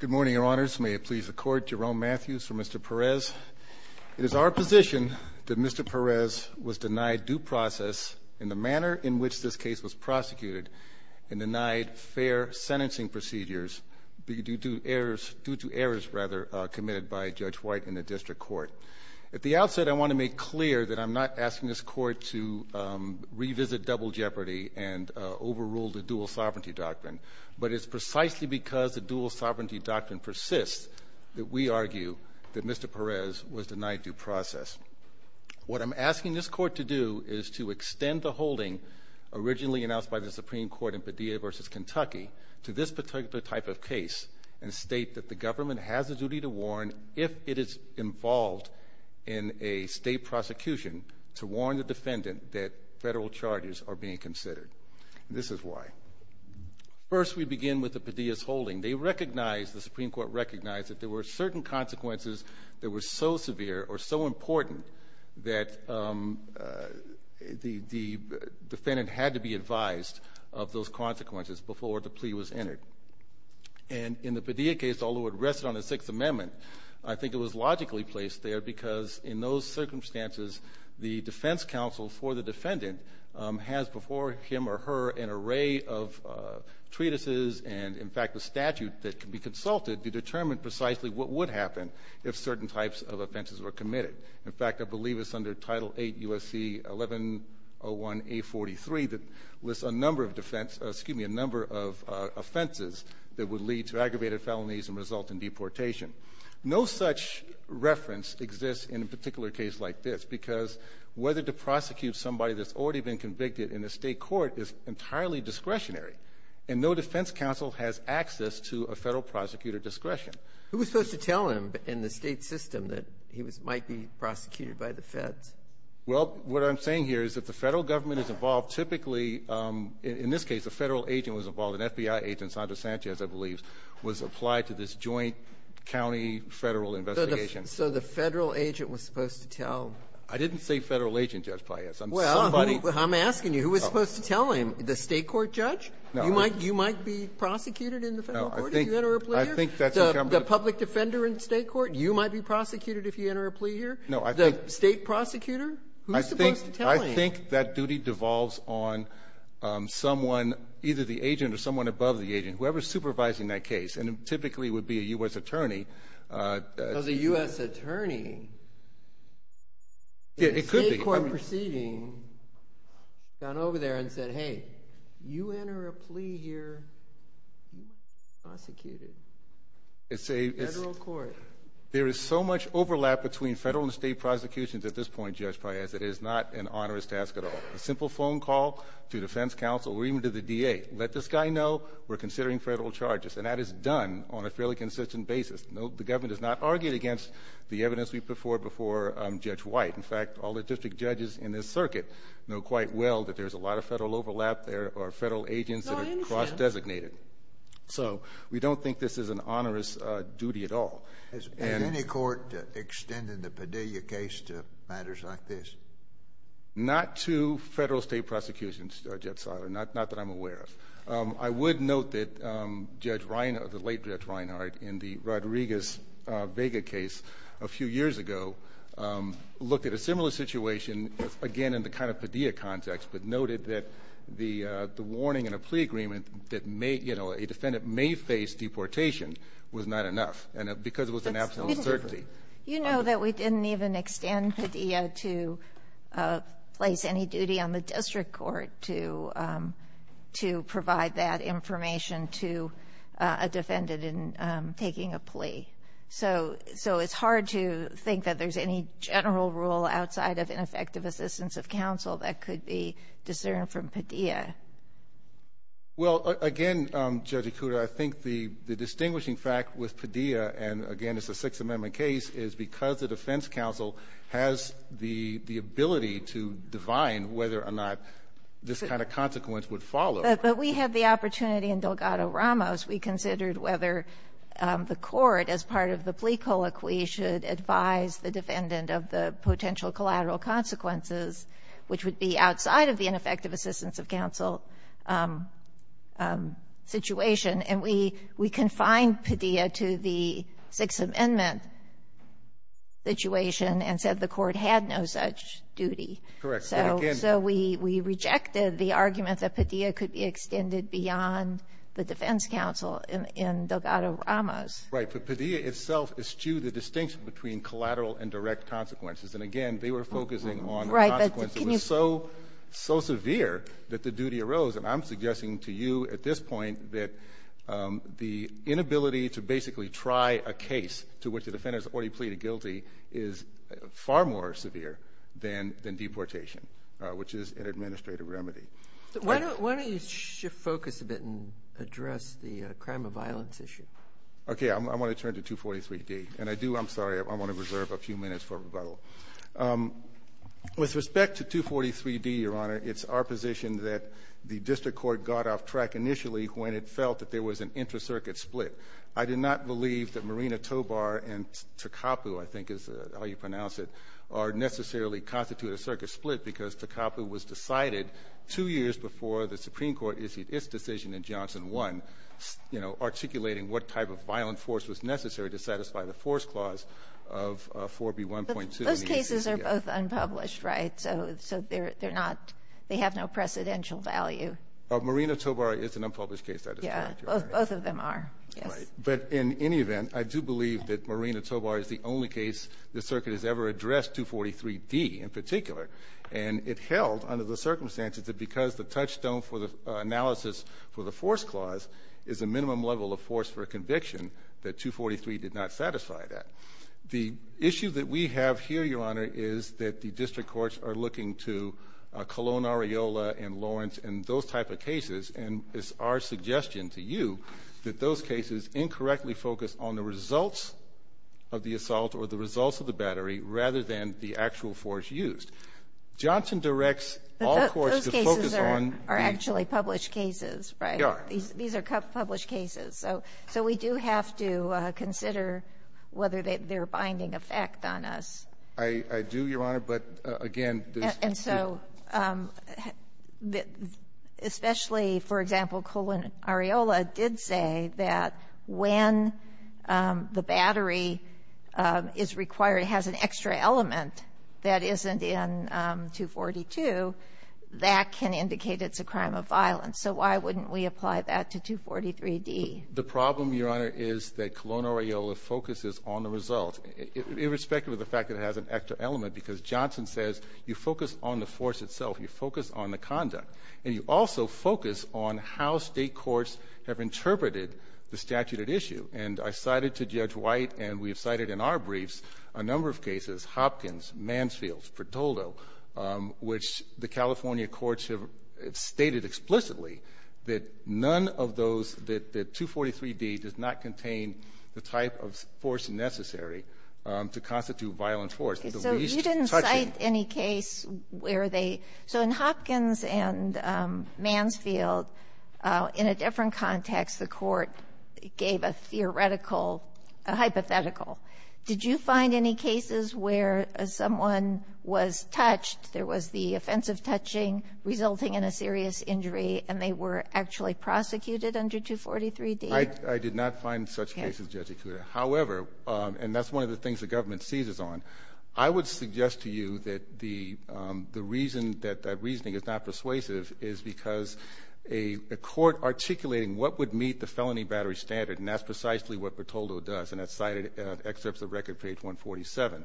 Good morning, Your Honors. May it please the Court, Jerome Matthews for Mr. Perez. It is our position that Mr. Perez was denied due process in the manner in which this case was prosecuted and denied fair sentencing procedures due to errors committed by Judge White in the District Court. At the outset, I want to make clear that I'm not asking this Court to revisit double jeopardy and overrule the dual sovereignty doctrine, but it's precisely because the dual sovereignty doctrine persists that we argue that Mr. Perez was denied due process. What I'm asking this Court to do is to extend the holding originally announced by the Supreme Court in Padilla v. Kentucky to this particular type of case and state that the government has a duty to warn if it is involved in a state prosecution to warn the defendant that federal charges are being considered. This is why. First, we begin with the Padilla's holding. They recognized, the Supreme Court recognized, that there were certain consequences that were so severe or so important that the defendant had to be advised of those consequences before the plea was entered. And in the Padilla case, although it rested on the Sixth Amendment, I think it was logically placed there because in those cases, the defense counsel for the defendant has before him or her an array of treatises and, in fact, a statute that can be consulted to determine precisely what would happen if certain types of offenses were committed. In fact, I believe it's under Title 8 U.S.C. 1101A43 that lists a number of offenses that would lead to aggravated felonies and result in deportation. No such reference exists in a particular case like this because whether to prosecute somebody that's already been convicted in a state court is entirely discretionary. And no defense counsel has access to a federal prosecutor discretion. Who was supposed to tell him in the state system that he might be prosecuted by the feds? Well, what I'm saying here is that the federal government is involved. Typically, in this case, a federal agent was involved, an FBI agent, Sondra Sanchez, I believe, was applied to this joint county federal investigation. So the federal agent was supposed to tell him? I didn't say federal agent, Judge Paillas. I'm somebody else. Well, I'm asking you, who was supposed to tell him? The state court judge? No. You might be prosecuted in the federal court if you enter a plea here? No. I think that's what I'm going to do. The public defender in state court, you might be prosecuted if you enter a plea here? No. The state prosecutor? Who's supposed to tell him? I think that duty devolves on someone, either the agent or someone above the agent, whoever's supervising that case. And typically, it would be a U.S. attorney. Because a U.S. attorney in a state court proceeding got over there and said, hey, you enter a plea here, you might be prosecuted in the federal court. There is so much overlap between federal and state prosecutions at this point, Judge Paillas. It is not an onerous task at all. A simple phone call to defense counsel or even to the DA. Let this guy know we're considering federal charges. And that is done on a fairly consistent basis. The government has not argued against the evidence we've put forth before Judge White. In fact, all the district judges in this circuit know quite well that there's a lot of federal overlap. There are federal agents that are cross-designated. So we don't think this is an onerous duty at all. Has any court extended the Padilla case to matters like this? Not to federal state prosecutions, Judge Siler. Not that I'm aware of. I would note that Judge Reinhart, the late Judge Reinhart, in the Rodriguez-Vega case a few years ago, looked at a similar situation, again, in the kind of Padilla context, but noted that the warning in a plea agreement that may, you know, a defendant may face deportation was not enough. And because it was an absolute certainty. You know that we didn't even extend Padilla to place any duty on the district court to provide that information to a defendant in taking a plea. So it's hard to think that there's any general rule outside of ineffective assistance of counsel that could be discerned from Padilla. Well, again, Judge Ikuda, I think the distinguishing fact with Padilla, and again, it's a Sixth Amendment case, is because the defense counsel has the ability to divine whether or not this kind of consequence would follow. But we had the opportunity in Delgado-Ramos, we considered whether the court, as part of the plea colloquy, should advise the defendant of the potential collateral consequences, which would be outside of the ineffective assistance of counsel situation, and we confined Padilla to the Sixth Amendment situation and said the court had no such duty. Correct. So we rejected the argument that Padilla could be extended beyond the defense counsel in Delgado-Ramos. Right. But Padilla itself eschewed the distinction between collateral and direct consequences. And again, they were focusing on consequences that were so severe that the duty arose. And I'm suggesting to you at this point that the inability to basically try a case to which the defendant has already pleaded guilty is far more severe than deportation, which is an administrative remedy. Why don't you shift focus a bit and address the crime of violence issue? Okay. I want to turn to 243D. And I do, I'm sorry, I want to reserve a few minutes for rebuttal. With respect to 243D, Your Honor, it's our position that the district court got off track initially when it felt that there was an inter-circuit split. I did not believe that Marina Tobar and Takapu, I think is how you pronounce it, are necessarily constituted a circuit split because Takapu was decided two years before the Supreme Court issued its decision in Johnson 1, you know, articulating what type of violent force was necessary to satisfy the force clause of 4B1.2. But those cases are both unpublished, right? So, so they're, they're not, they have no precedential value. Marina Tobar is an unpublished case, that is correct, Your Honor. Yeah, both of them are. Right. But in any event, I do believe that Marina Tobar is the only case the circuit has ever addressed 243D in particular. And it held under the circumstances that because the touchstone for the analysis for the force clause is a minimum level of force for a conviction that 243 did not satisfy that. The issue that we have here, Your Honor, is that the district courts are looking to Colon and they are suggesting to you that those cases incorrectly focus on the results of the assault or the results of the battery rather than the actual force used. Johnson directs all courts to focus on the… But those cases are actually published cases, right? They are. These are published cases. So, so we do have to consider whether they're, they're binding effect on us. I, I do, Your Honor, but again, there's… And so, especially, for example, Colon Areola did say that when the battery is required, has an extra element that isn't in 242, that can indicate it's a crime of violence. So why wouldn't we apply that to 243D? The problem, Your Honor, is that Colon Areola focuses on the result, irrespective of the fact that it has an extra element, because Johnson says you focus on the force itself. You focus on the conduct. And you also focus on how state courts have interpreted the statute at issue. And I cited to Judge White, and we have cited in our briefs a number of cases, Hopkins, Mansfield, Pretolo, which the California courts have stated explicitly that none of those cases, that, that 243D does not contain the type of force necessary to constitute violent force. The least touching… Okay. So you didn't cite any case where they… So in Hopkins and Mansfield, in a different context, the court gave a theoretical, a hypothetical. Did you find any cases where someone was touched, there was the offensive touching resulting in a serious injury, and they were actually prosecuted under 243D? I did not find such cases, Judge Ikuda. However, and that's one of the things the government seizes on, I would suggest to you that the reason that that reasoning is not persuasive is because a court articulating what would meet the felony battery standard, and that's precisely what Pretolo does, and it's cited in excerpts of Record Page 147.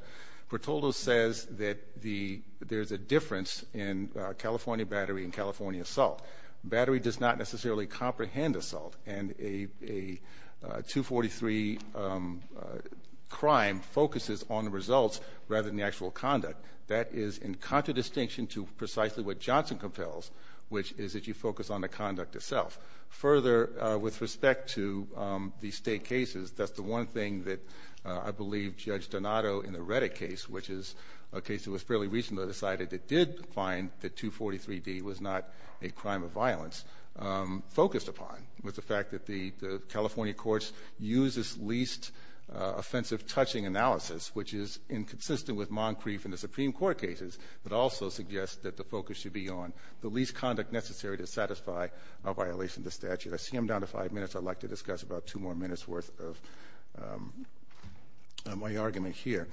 Pretolo says that the, there's a difference in California battery and California assault. Battery does not necessarily comprehend assault, and a, a 243 crime focuses on the results rather than the actual conduct. That is in contradistinction to precisely what Johnson compels, which is that you focus on the conduct itself. Further, with respect to the state cases, that's the one thing that I believe Judge Donato in the Reddick case, which is a case that was fairly recently decided that did find that 243D was not a crime of violence, focused upon was the fact that the, the California courts use this least offensive touching analysis, which is inconsistent with Moncrief and the Supreme Court cases, but also suggests that the focus should be on the least conduct necessary to satisfy a violation of the statute. I see I'm down to five minutes. I'd like to discuss about two more minutes worth of my argument here.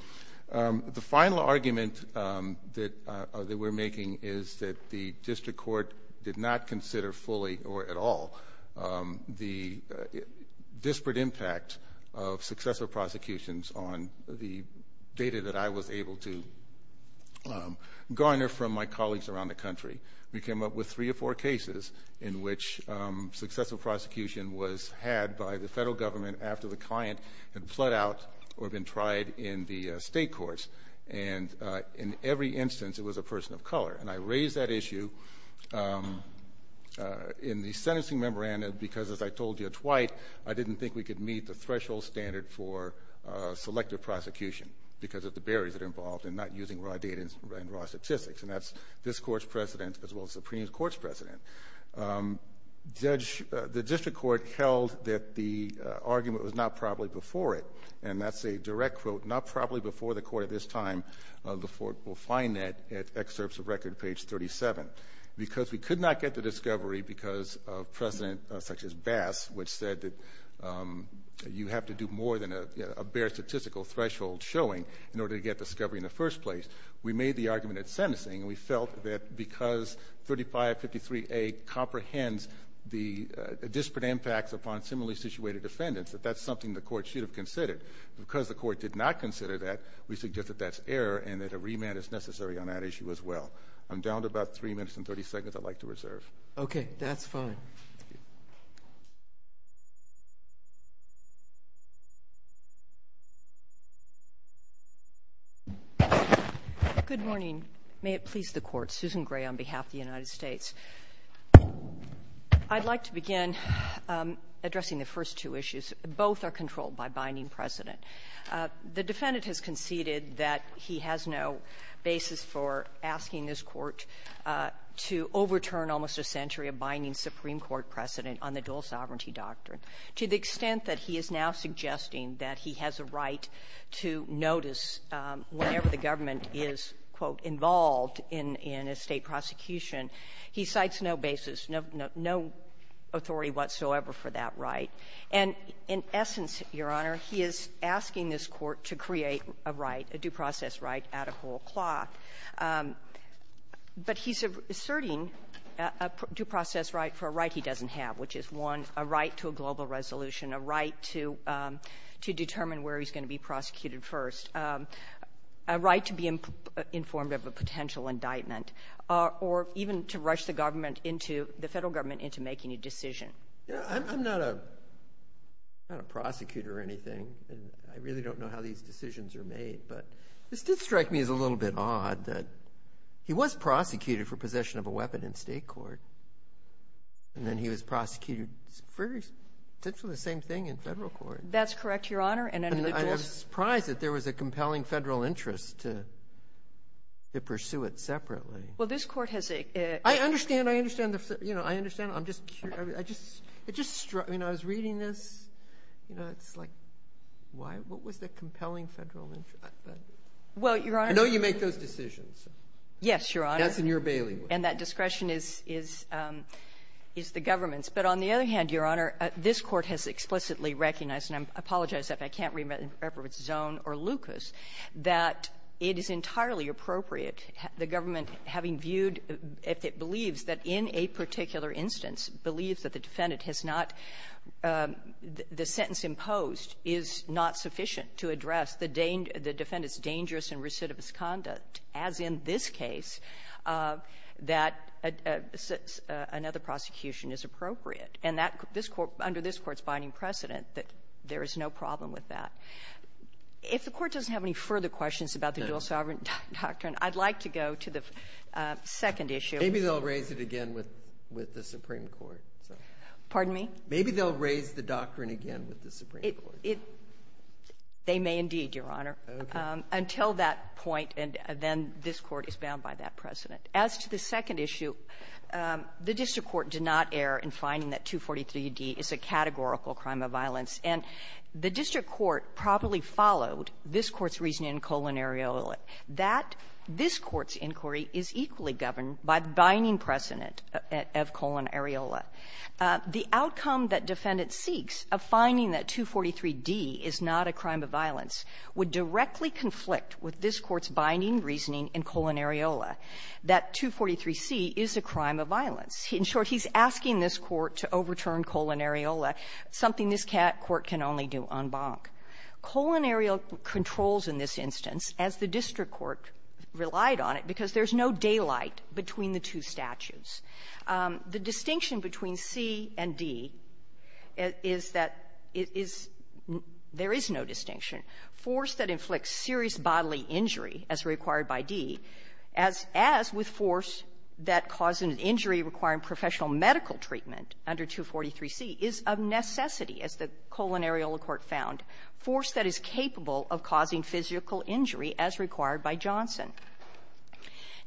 The final argument that, that we're making is that the district court did not consider fully or at all the disparate impact of successful prosecutions on the data that I was able to garner from my colleagues around the country. We came up with three or four cases in which successful prosecution was had by the federal government after the client had bled out or been tried in the state courts, and in every instance it was a person of color, and I raise that issue in the sentencing memorandum because as I told Judge White, I didn't think we could meet the threshold standard for selective prosecution because of the barriers that are involved in not using raw data and raw statistics, and that's this Court's precedent as well as the Supreme Court's precedent. The district court held that the argument was not properly before it, and that's a direct quote, not properly before the court at this time, the court will find that at excerpts of record page 37. Because we could not get the discovery because of precedent such as Bass, which said that you have to do more than a bare statistical threshold showing in order to get discovery in the first place. We made the argument at sentencing, and we felt that because 3553A comprehends the disparate impacts upon similarly situated defendants, that that's something the court should have considered. Because the court did not consider that, we suggest that that's error and that a remand is necessary on that issue as well. I'm down to about three minutes and 30 seconds I'd like to reserve. Okay, that's fine. Thank you. Good morning. May it please the Court. Susan Gray on behalf of the United States. I'd like to begin addressing the first two issues. Both are controlled by binding precedent. The defendant has conceded that he has no basis for asking this Court to overturn almost a century of binding Supreme Court precedent on the dual-sovereignty doctrine to the extent that he is now suggesting that he has a right to notice whenever the government is, quote, involved in a State prosecution. He cites no basis, no authority whatsoever for that right. And in essence, Your Honor, he is asking this Court to create a right, a due process right at a whole cloth. But he's asserting a due process right for a right he doesn't have, which is, one, a right to a global resolution, a right to determine where he's going to be prosecuted first, a right to be informed of a potential indictment, or even to rush the government into the Federal government into making a decision. I'm not a prosecutor or anything, and I really don't know how these decisions are made. But this did strike me as a little bit odd that he was prosecuted for possession of a weapon in State court, and then he was prosecuted for essentially the same thing in Federal court. That's correct, Your Honor. And I was surprised that there was a compelling Federal interest to pursue it separately. Well, this Court has a- I understand. I understand. I understand. I'm just curious. I was reading this. It's like, what was the compelling Federal interest? Well, Your Honor- I know you make those decisions. Yes, Your Honor. That's in your bailiwick. And that discretion is the government's. But on the other hand, Your Honor, this Court has explicitly recognized, and I apologize if I can't remember if it's Zone or Lucas, that it is entirely appropriate, the government having viewed, if it believes that in a particular instance, believes that the defendant has not the sentence imposed is not sufficient to address the defendant's dangerous and recidivist conduct, as in this case, that another prosecution is appropriate. And that this Court, under this Court's binding precedent, that there is no problem with that. If the Court doesn't have any further questions about the dual sovereign doctrine, I'd like to go to the second issue. Maybe they'll raise it again with the Supreme Court. Pardon me? Maybe they'll raise the doctrine again with the Supreme Court. It — they may indeed, Your Honor, until that point. And then this Court is bound by that precedent. As to the second issue, the district court did not err in finding that 243d is a categorical crime of violence. And the district court properly followed this Court's reasoning in Colon-Ariola. That — this Court's inquiry is equally governed by the binding precedent of Colon-Ariola. The outcome that defendants seeks of finding that 243d is not a crime of violence would directly conflict with this Court's binding reasoning in Colon-Ariola, that 243c is a crime of violence. In short, he's asking this Court to overturn Colon-Ariola, something this Court can only do en banc. Colon-Ariola controls in this instance, as the district court relied on it, because there's no daylight between the two statutes. The distinction between C and D is that it is — there is no distinction. Force that inflicts serious bodily injury, as required by D, as — as with force that causes an injury requiring professional medical treatment under 243c, is of necessity, as the Colon-Ariola Court found, force that is capable of causing physical injury as required by Johnson.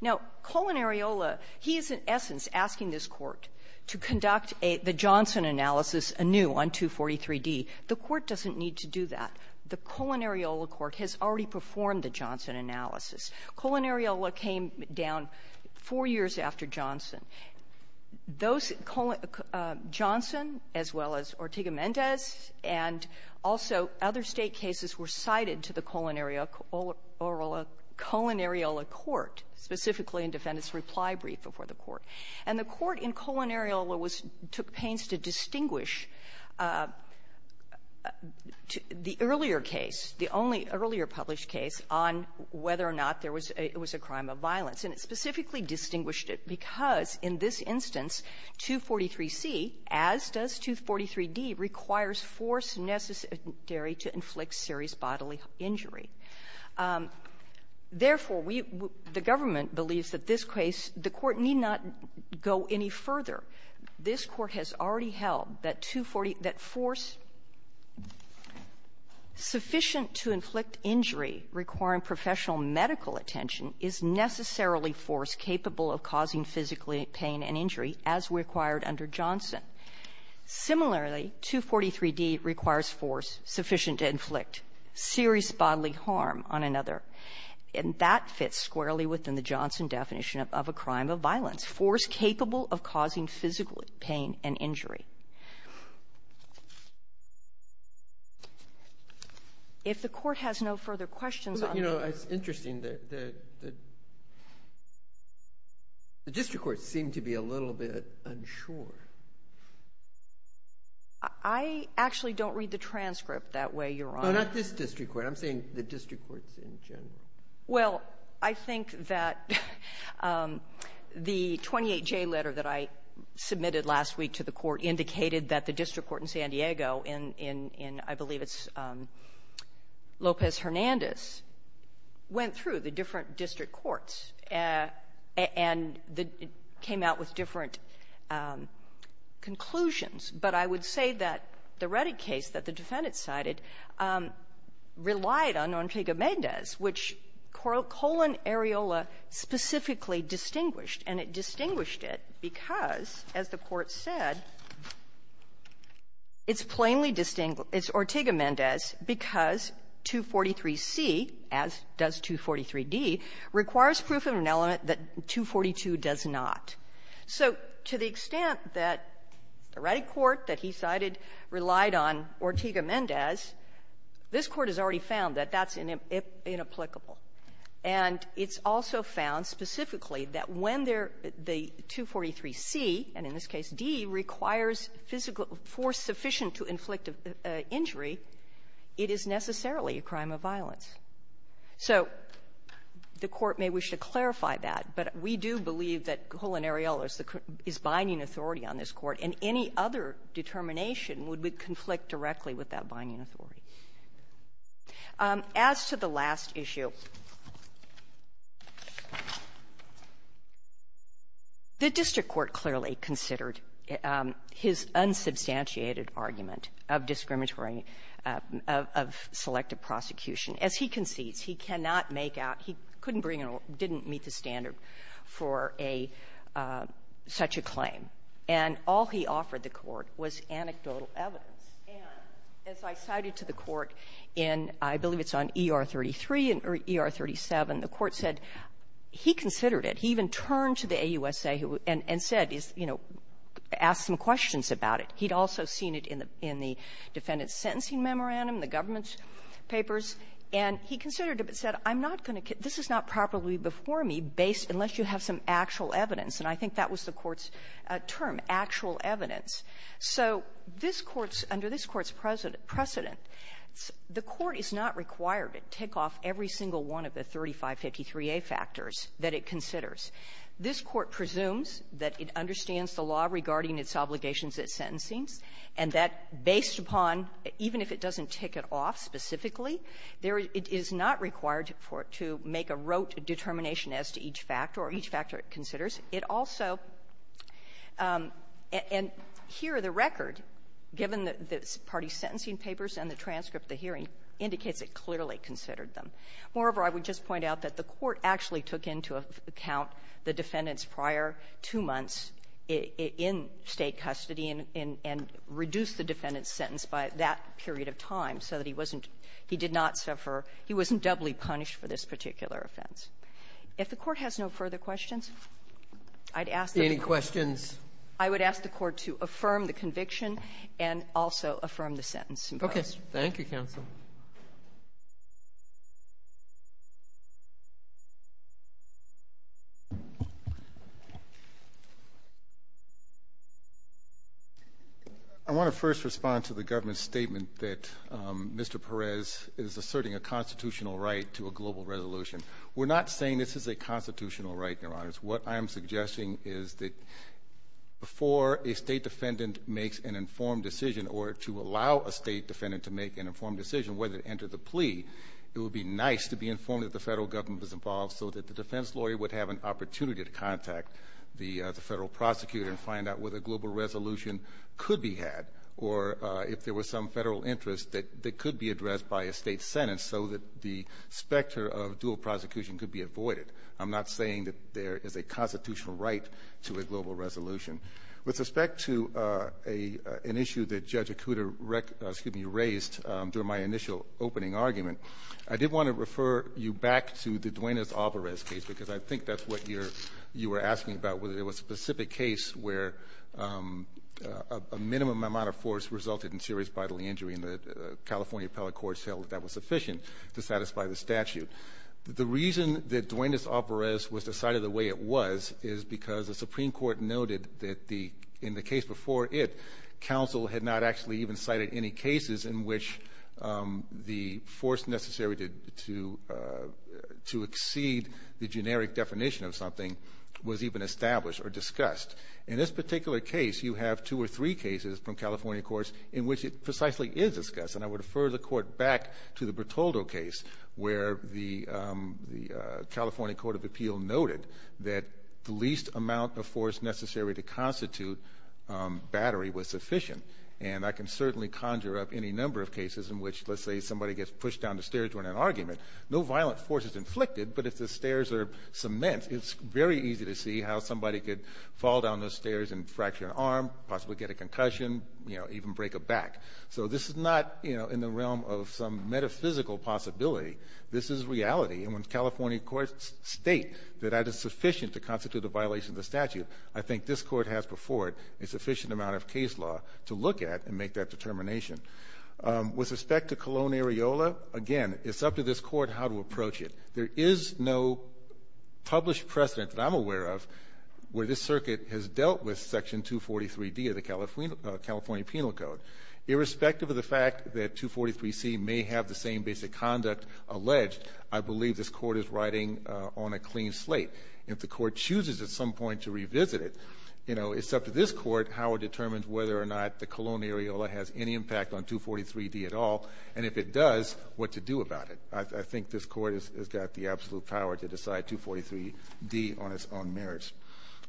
Now, Colon-Ariola, he is, in essence, asking this Court to conduct a — the Johnson analysis anew on 243d. The Court doesn't need to do that. The Colon-Ariola Court has already performed the Johnson analysis. Colon-Ariola came down four years after Johnson. Those — Johnson, as well as Ortega-Mendez, and also other State cases, were cited to the Colon-Ariola Court, specifically in Defendant's reply brief before the Court. And the Court in Colon-Ariola was — took pains to distinguish the earlier case, the only earlier published case, on whether or not there was a — it was a crime of violence. And it specifically distinguished it because, in this instance, 243c, as does 243d, requires force necessary to inflict serious bodily injury. Therefore, we — the government believes that this case — the Court need not go any further. This Court has already held that 240 — that force sufficient to inflict injury requiring professional medical attention is necessarily force capable of causing physically pain and injury as required under Johnson. Similarly, 243d requires force sufficient to inflict serious bodily harm on another. And that fits squarely within the Johnson definition of a crime of violence, force capable of causing physical pain and injury. If the Court has no further questions on the — I actually don't read the transcript. That way, you're on. But not this district court. I'm saying the district courts in general. Well, I think that the 28J letter that I submitted last week to the Court indicated that the district court in San Diego in — in, I believe it's Lopez-Hernandez went through the different district courts and the — came out with different conclusions. But I would say that the Reddick case that the defendant cited relied on Ortega-Mendez, which Colon-Ariola specifically distinguished. And it distinguished it because, as the Court said, it's plainly — it's Ortega-Mendez because 243c, as does 243d, requires proof of an element that 242 does not. So to the extent that the Reddick court that he cited relied on Ortega-Mendez, this Court has already found that that's inapplicable. And it's also found specifically that when there — the 243c, and in this case d, requires physical force sufficient to inflict injury, it is necessarily a crime of violence. So the Court may wish to clarify that, but we do believe that Colon-Ariola is the — is binding authority on this Court, and any other determination would be — conflict directly with that binding authority. As to the last issue, the district court clearly considered his unsubstantiated argument of discriminatory — of — of selective prosecution. As he concedes, he cannot make out — he couldn't bring a — didn't meet the standard for a — such a claim. And all he offered the Court was anecdotal evidence. And as I cited to the Court in — I believe it's on ER-33 and — or ER-37, the Court said he considered it. He even turned to the AUSA who — and — and said, you know, asked some questions about it. He'd also seen it in the — in the defendant's sentencing memorandum, the government's papers, and he considered it, but said, I'm not going to — this is not properly before me unless you have some actual evidence. And I think that was the Court's term, actual evidence. So this Court's — under this Court's precedent, the Court is not required to take off every single one of the 3553a factors that it considers. This Court presumes that it understands the law regarding its obligations at sentencing, and that based upon — even if it doesn't tick it off specifically, there — it is not required to make a rote determination as to each factor, or each factor it considers. It also — and here, the record, given the party's sentencing papers and the transcript of the hearing, indicates it clearly considered them. Moreover, I would just point out that the Court actually took into account the defendant's prior two months in State custody and — and reduced the defendant's sentence by that period of time so that he wasn't — he did not suffer — he wasn't doubly punished for this particular offense. If the Court has no further questions, I'd ask the Court to — Roberts. Any questions? I would ask the Court to affirm the conviction and also affirm the sentence in part. Okay. Thank you, counsel. I want to first respond to the government's statement that Mr. Perez is asserting a constitutional right to a global resolution. We're not saying this is a constitutional right, Your Honors. What I'm suggesting is that before a State defendant makes an informed decision or to allow a State defendant to make an informed decision, whether it entered the plea, it would be nice to be informed that the Federal Government was involved so that the defense lawyer would have an opportunity to contact the Federal prosecutor and find out whether a global resolution could be had or if there was some Federal interest that could be addressed by a State sentence so that the specter of dual prosecution could be avoided. I'm not saying that there is a constitutional right to a global resolution. With respect to an issue that Judge Acuda raised during my initial opening argument, I did want to refer you back to the Duenas-Alvarez case, because I think that's what you're — you were asking about, whether there was a specific case where a minimum amount of force resulted in serious bodily injury, and the California appellate court held that that was sufficient to satisfy the statute. The reason that Duenas-Alvarez was decided the way it was is because the Supreme Court noted that the — in the case before it, counsel had not actually even cited any cases in which the force necessary to exceed the generic definition of something was even established or discussed. In this particular case, you have two or three cases from California courts in which it precisely is discussed, and I would refer the Court back to the Bertoldo case, where the California Court of Appeal noted that the least amount of force necessary to constitute battery was sufficient. And I can certainly conjure up any number of cases in which, let's say, somebody gets pushed down the stairs during an argument. No violent force is inflicted, but if the stairs are cement, it's very easy to see how somebody could fall down those stairs and fracture an arm, possibly get a concussion, you know, this is reality. And when California courts state that that is sufficient to constitute a violation of the statute, I think this Court has before it a sufficient amount of case law to look at and make that determination. With respect to Colón-Areola, again, it's up to this Court how to approach it. There is no published precedent that I'm aware of where this circuit has dealt with Section 243d of the California Penal Code. Irrespective of the fact that 243c may have the same basic conduct alleged, I believe this Court is riding on a clean slate. If the Court chooses at some point to revisit it, you know, it's up to this Court how it determines whether or not the Colón-Areola has any impact on 243d at all, and if it does, what to do about it. I think this Court has got the absolute power to decide 243d on its own merits.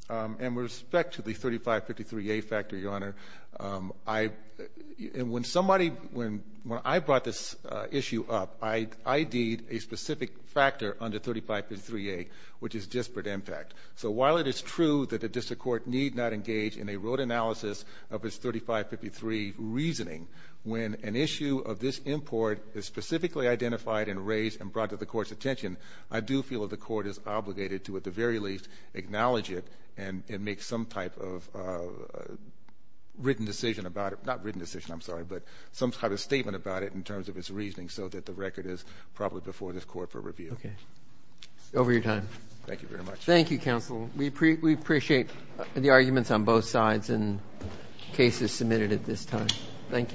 With respect to the 3553a factor, Your Honor, when I brought this issue up, I ID'd a specific factor under 3553a, which is disparate impact. So while it is true that the district court need not engage in a road analysis of its 3553 reasoning, when an issue of this import is specifically identified and raised and brought to the Court's attention, I do feel the Court is obligated to, at the very least, acknowledge it and make some type of written decision about it. Not written decision, I'm sorry, but some type of statement about it in terms of its reasoning so that the record is probably before this Court for review. Okay. Over your time. Thank you very much. Thank you, Counsel. We appreciate the arguments on both sides and cases submitted at this time. Thank you.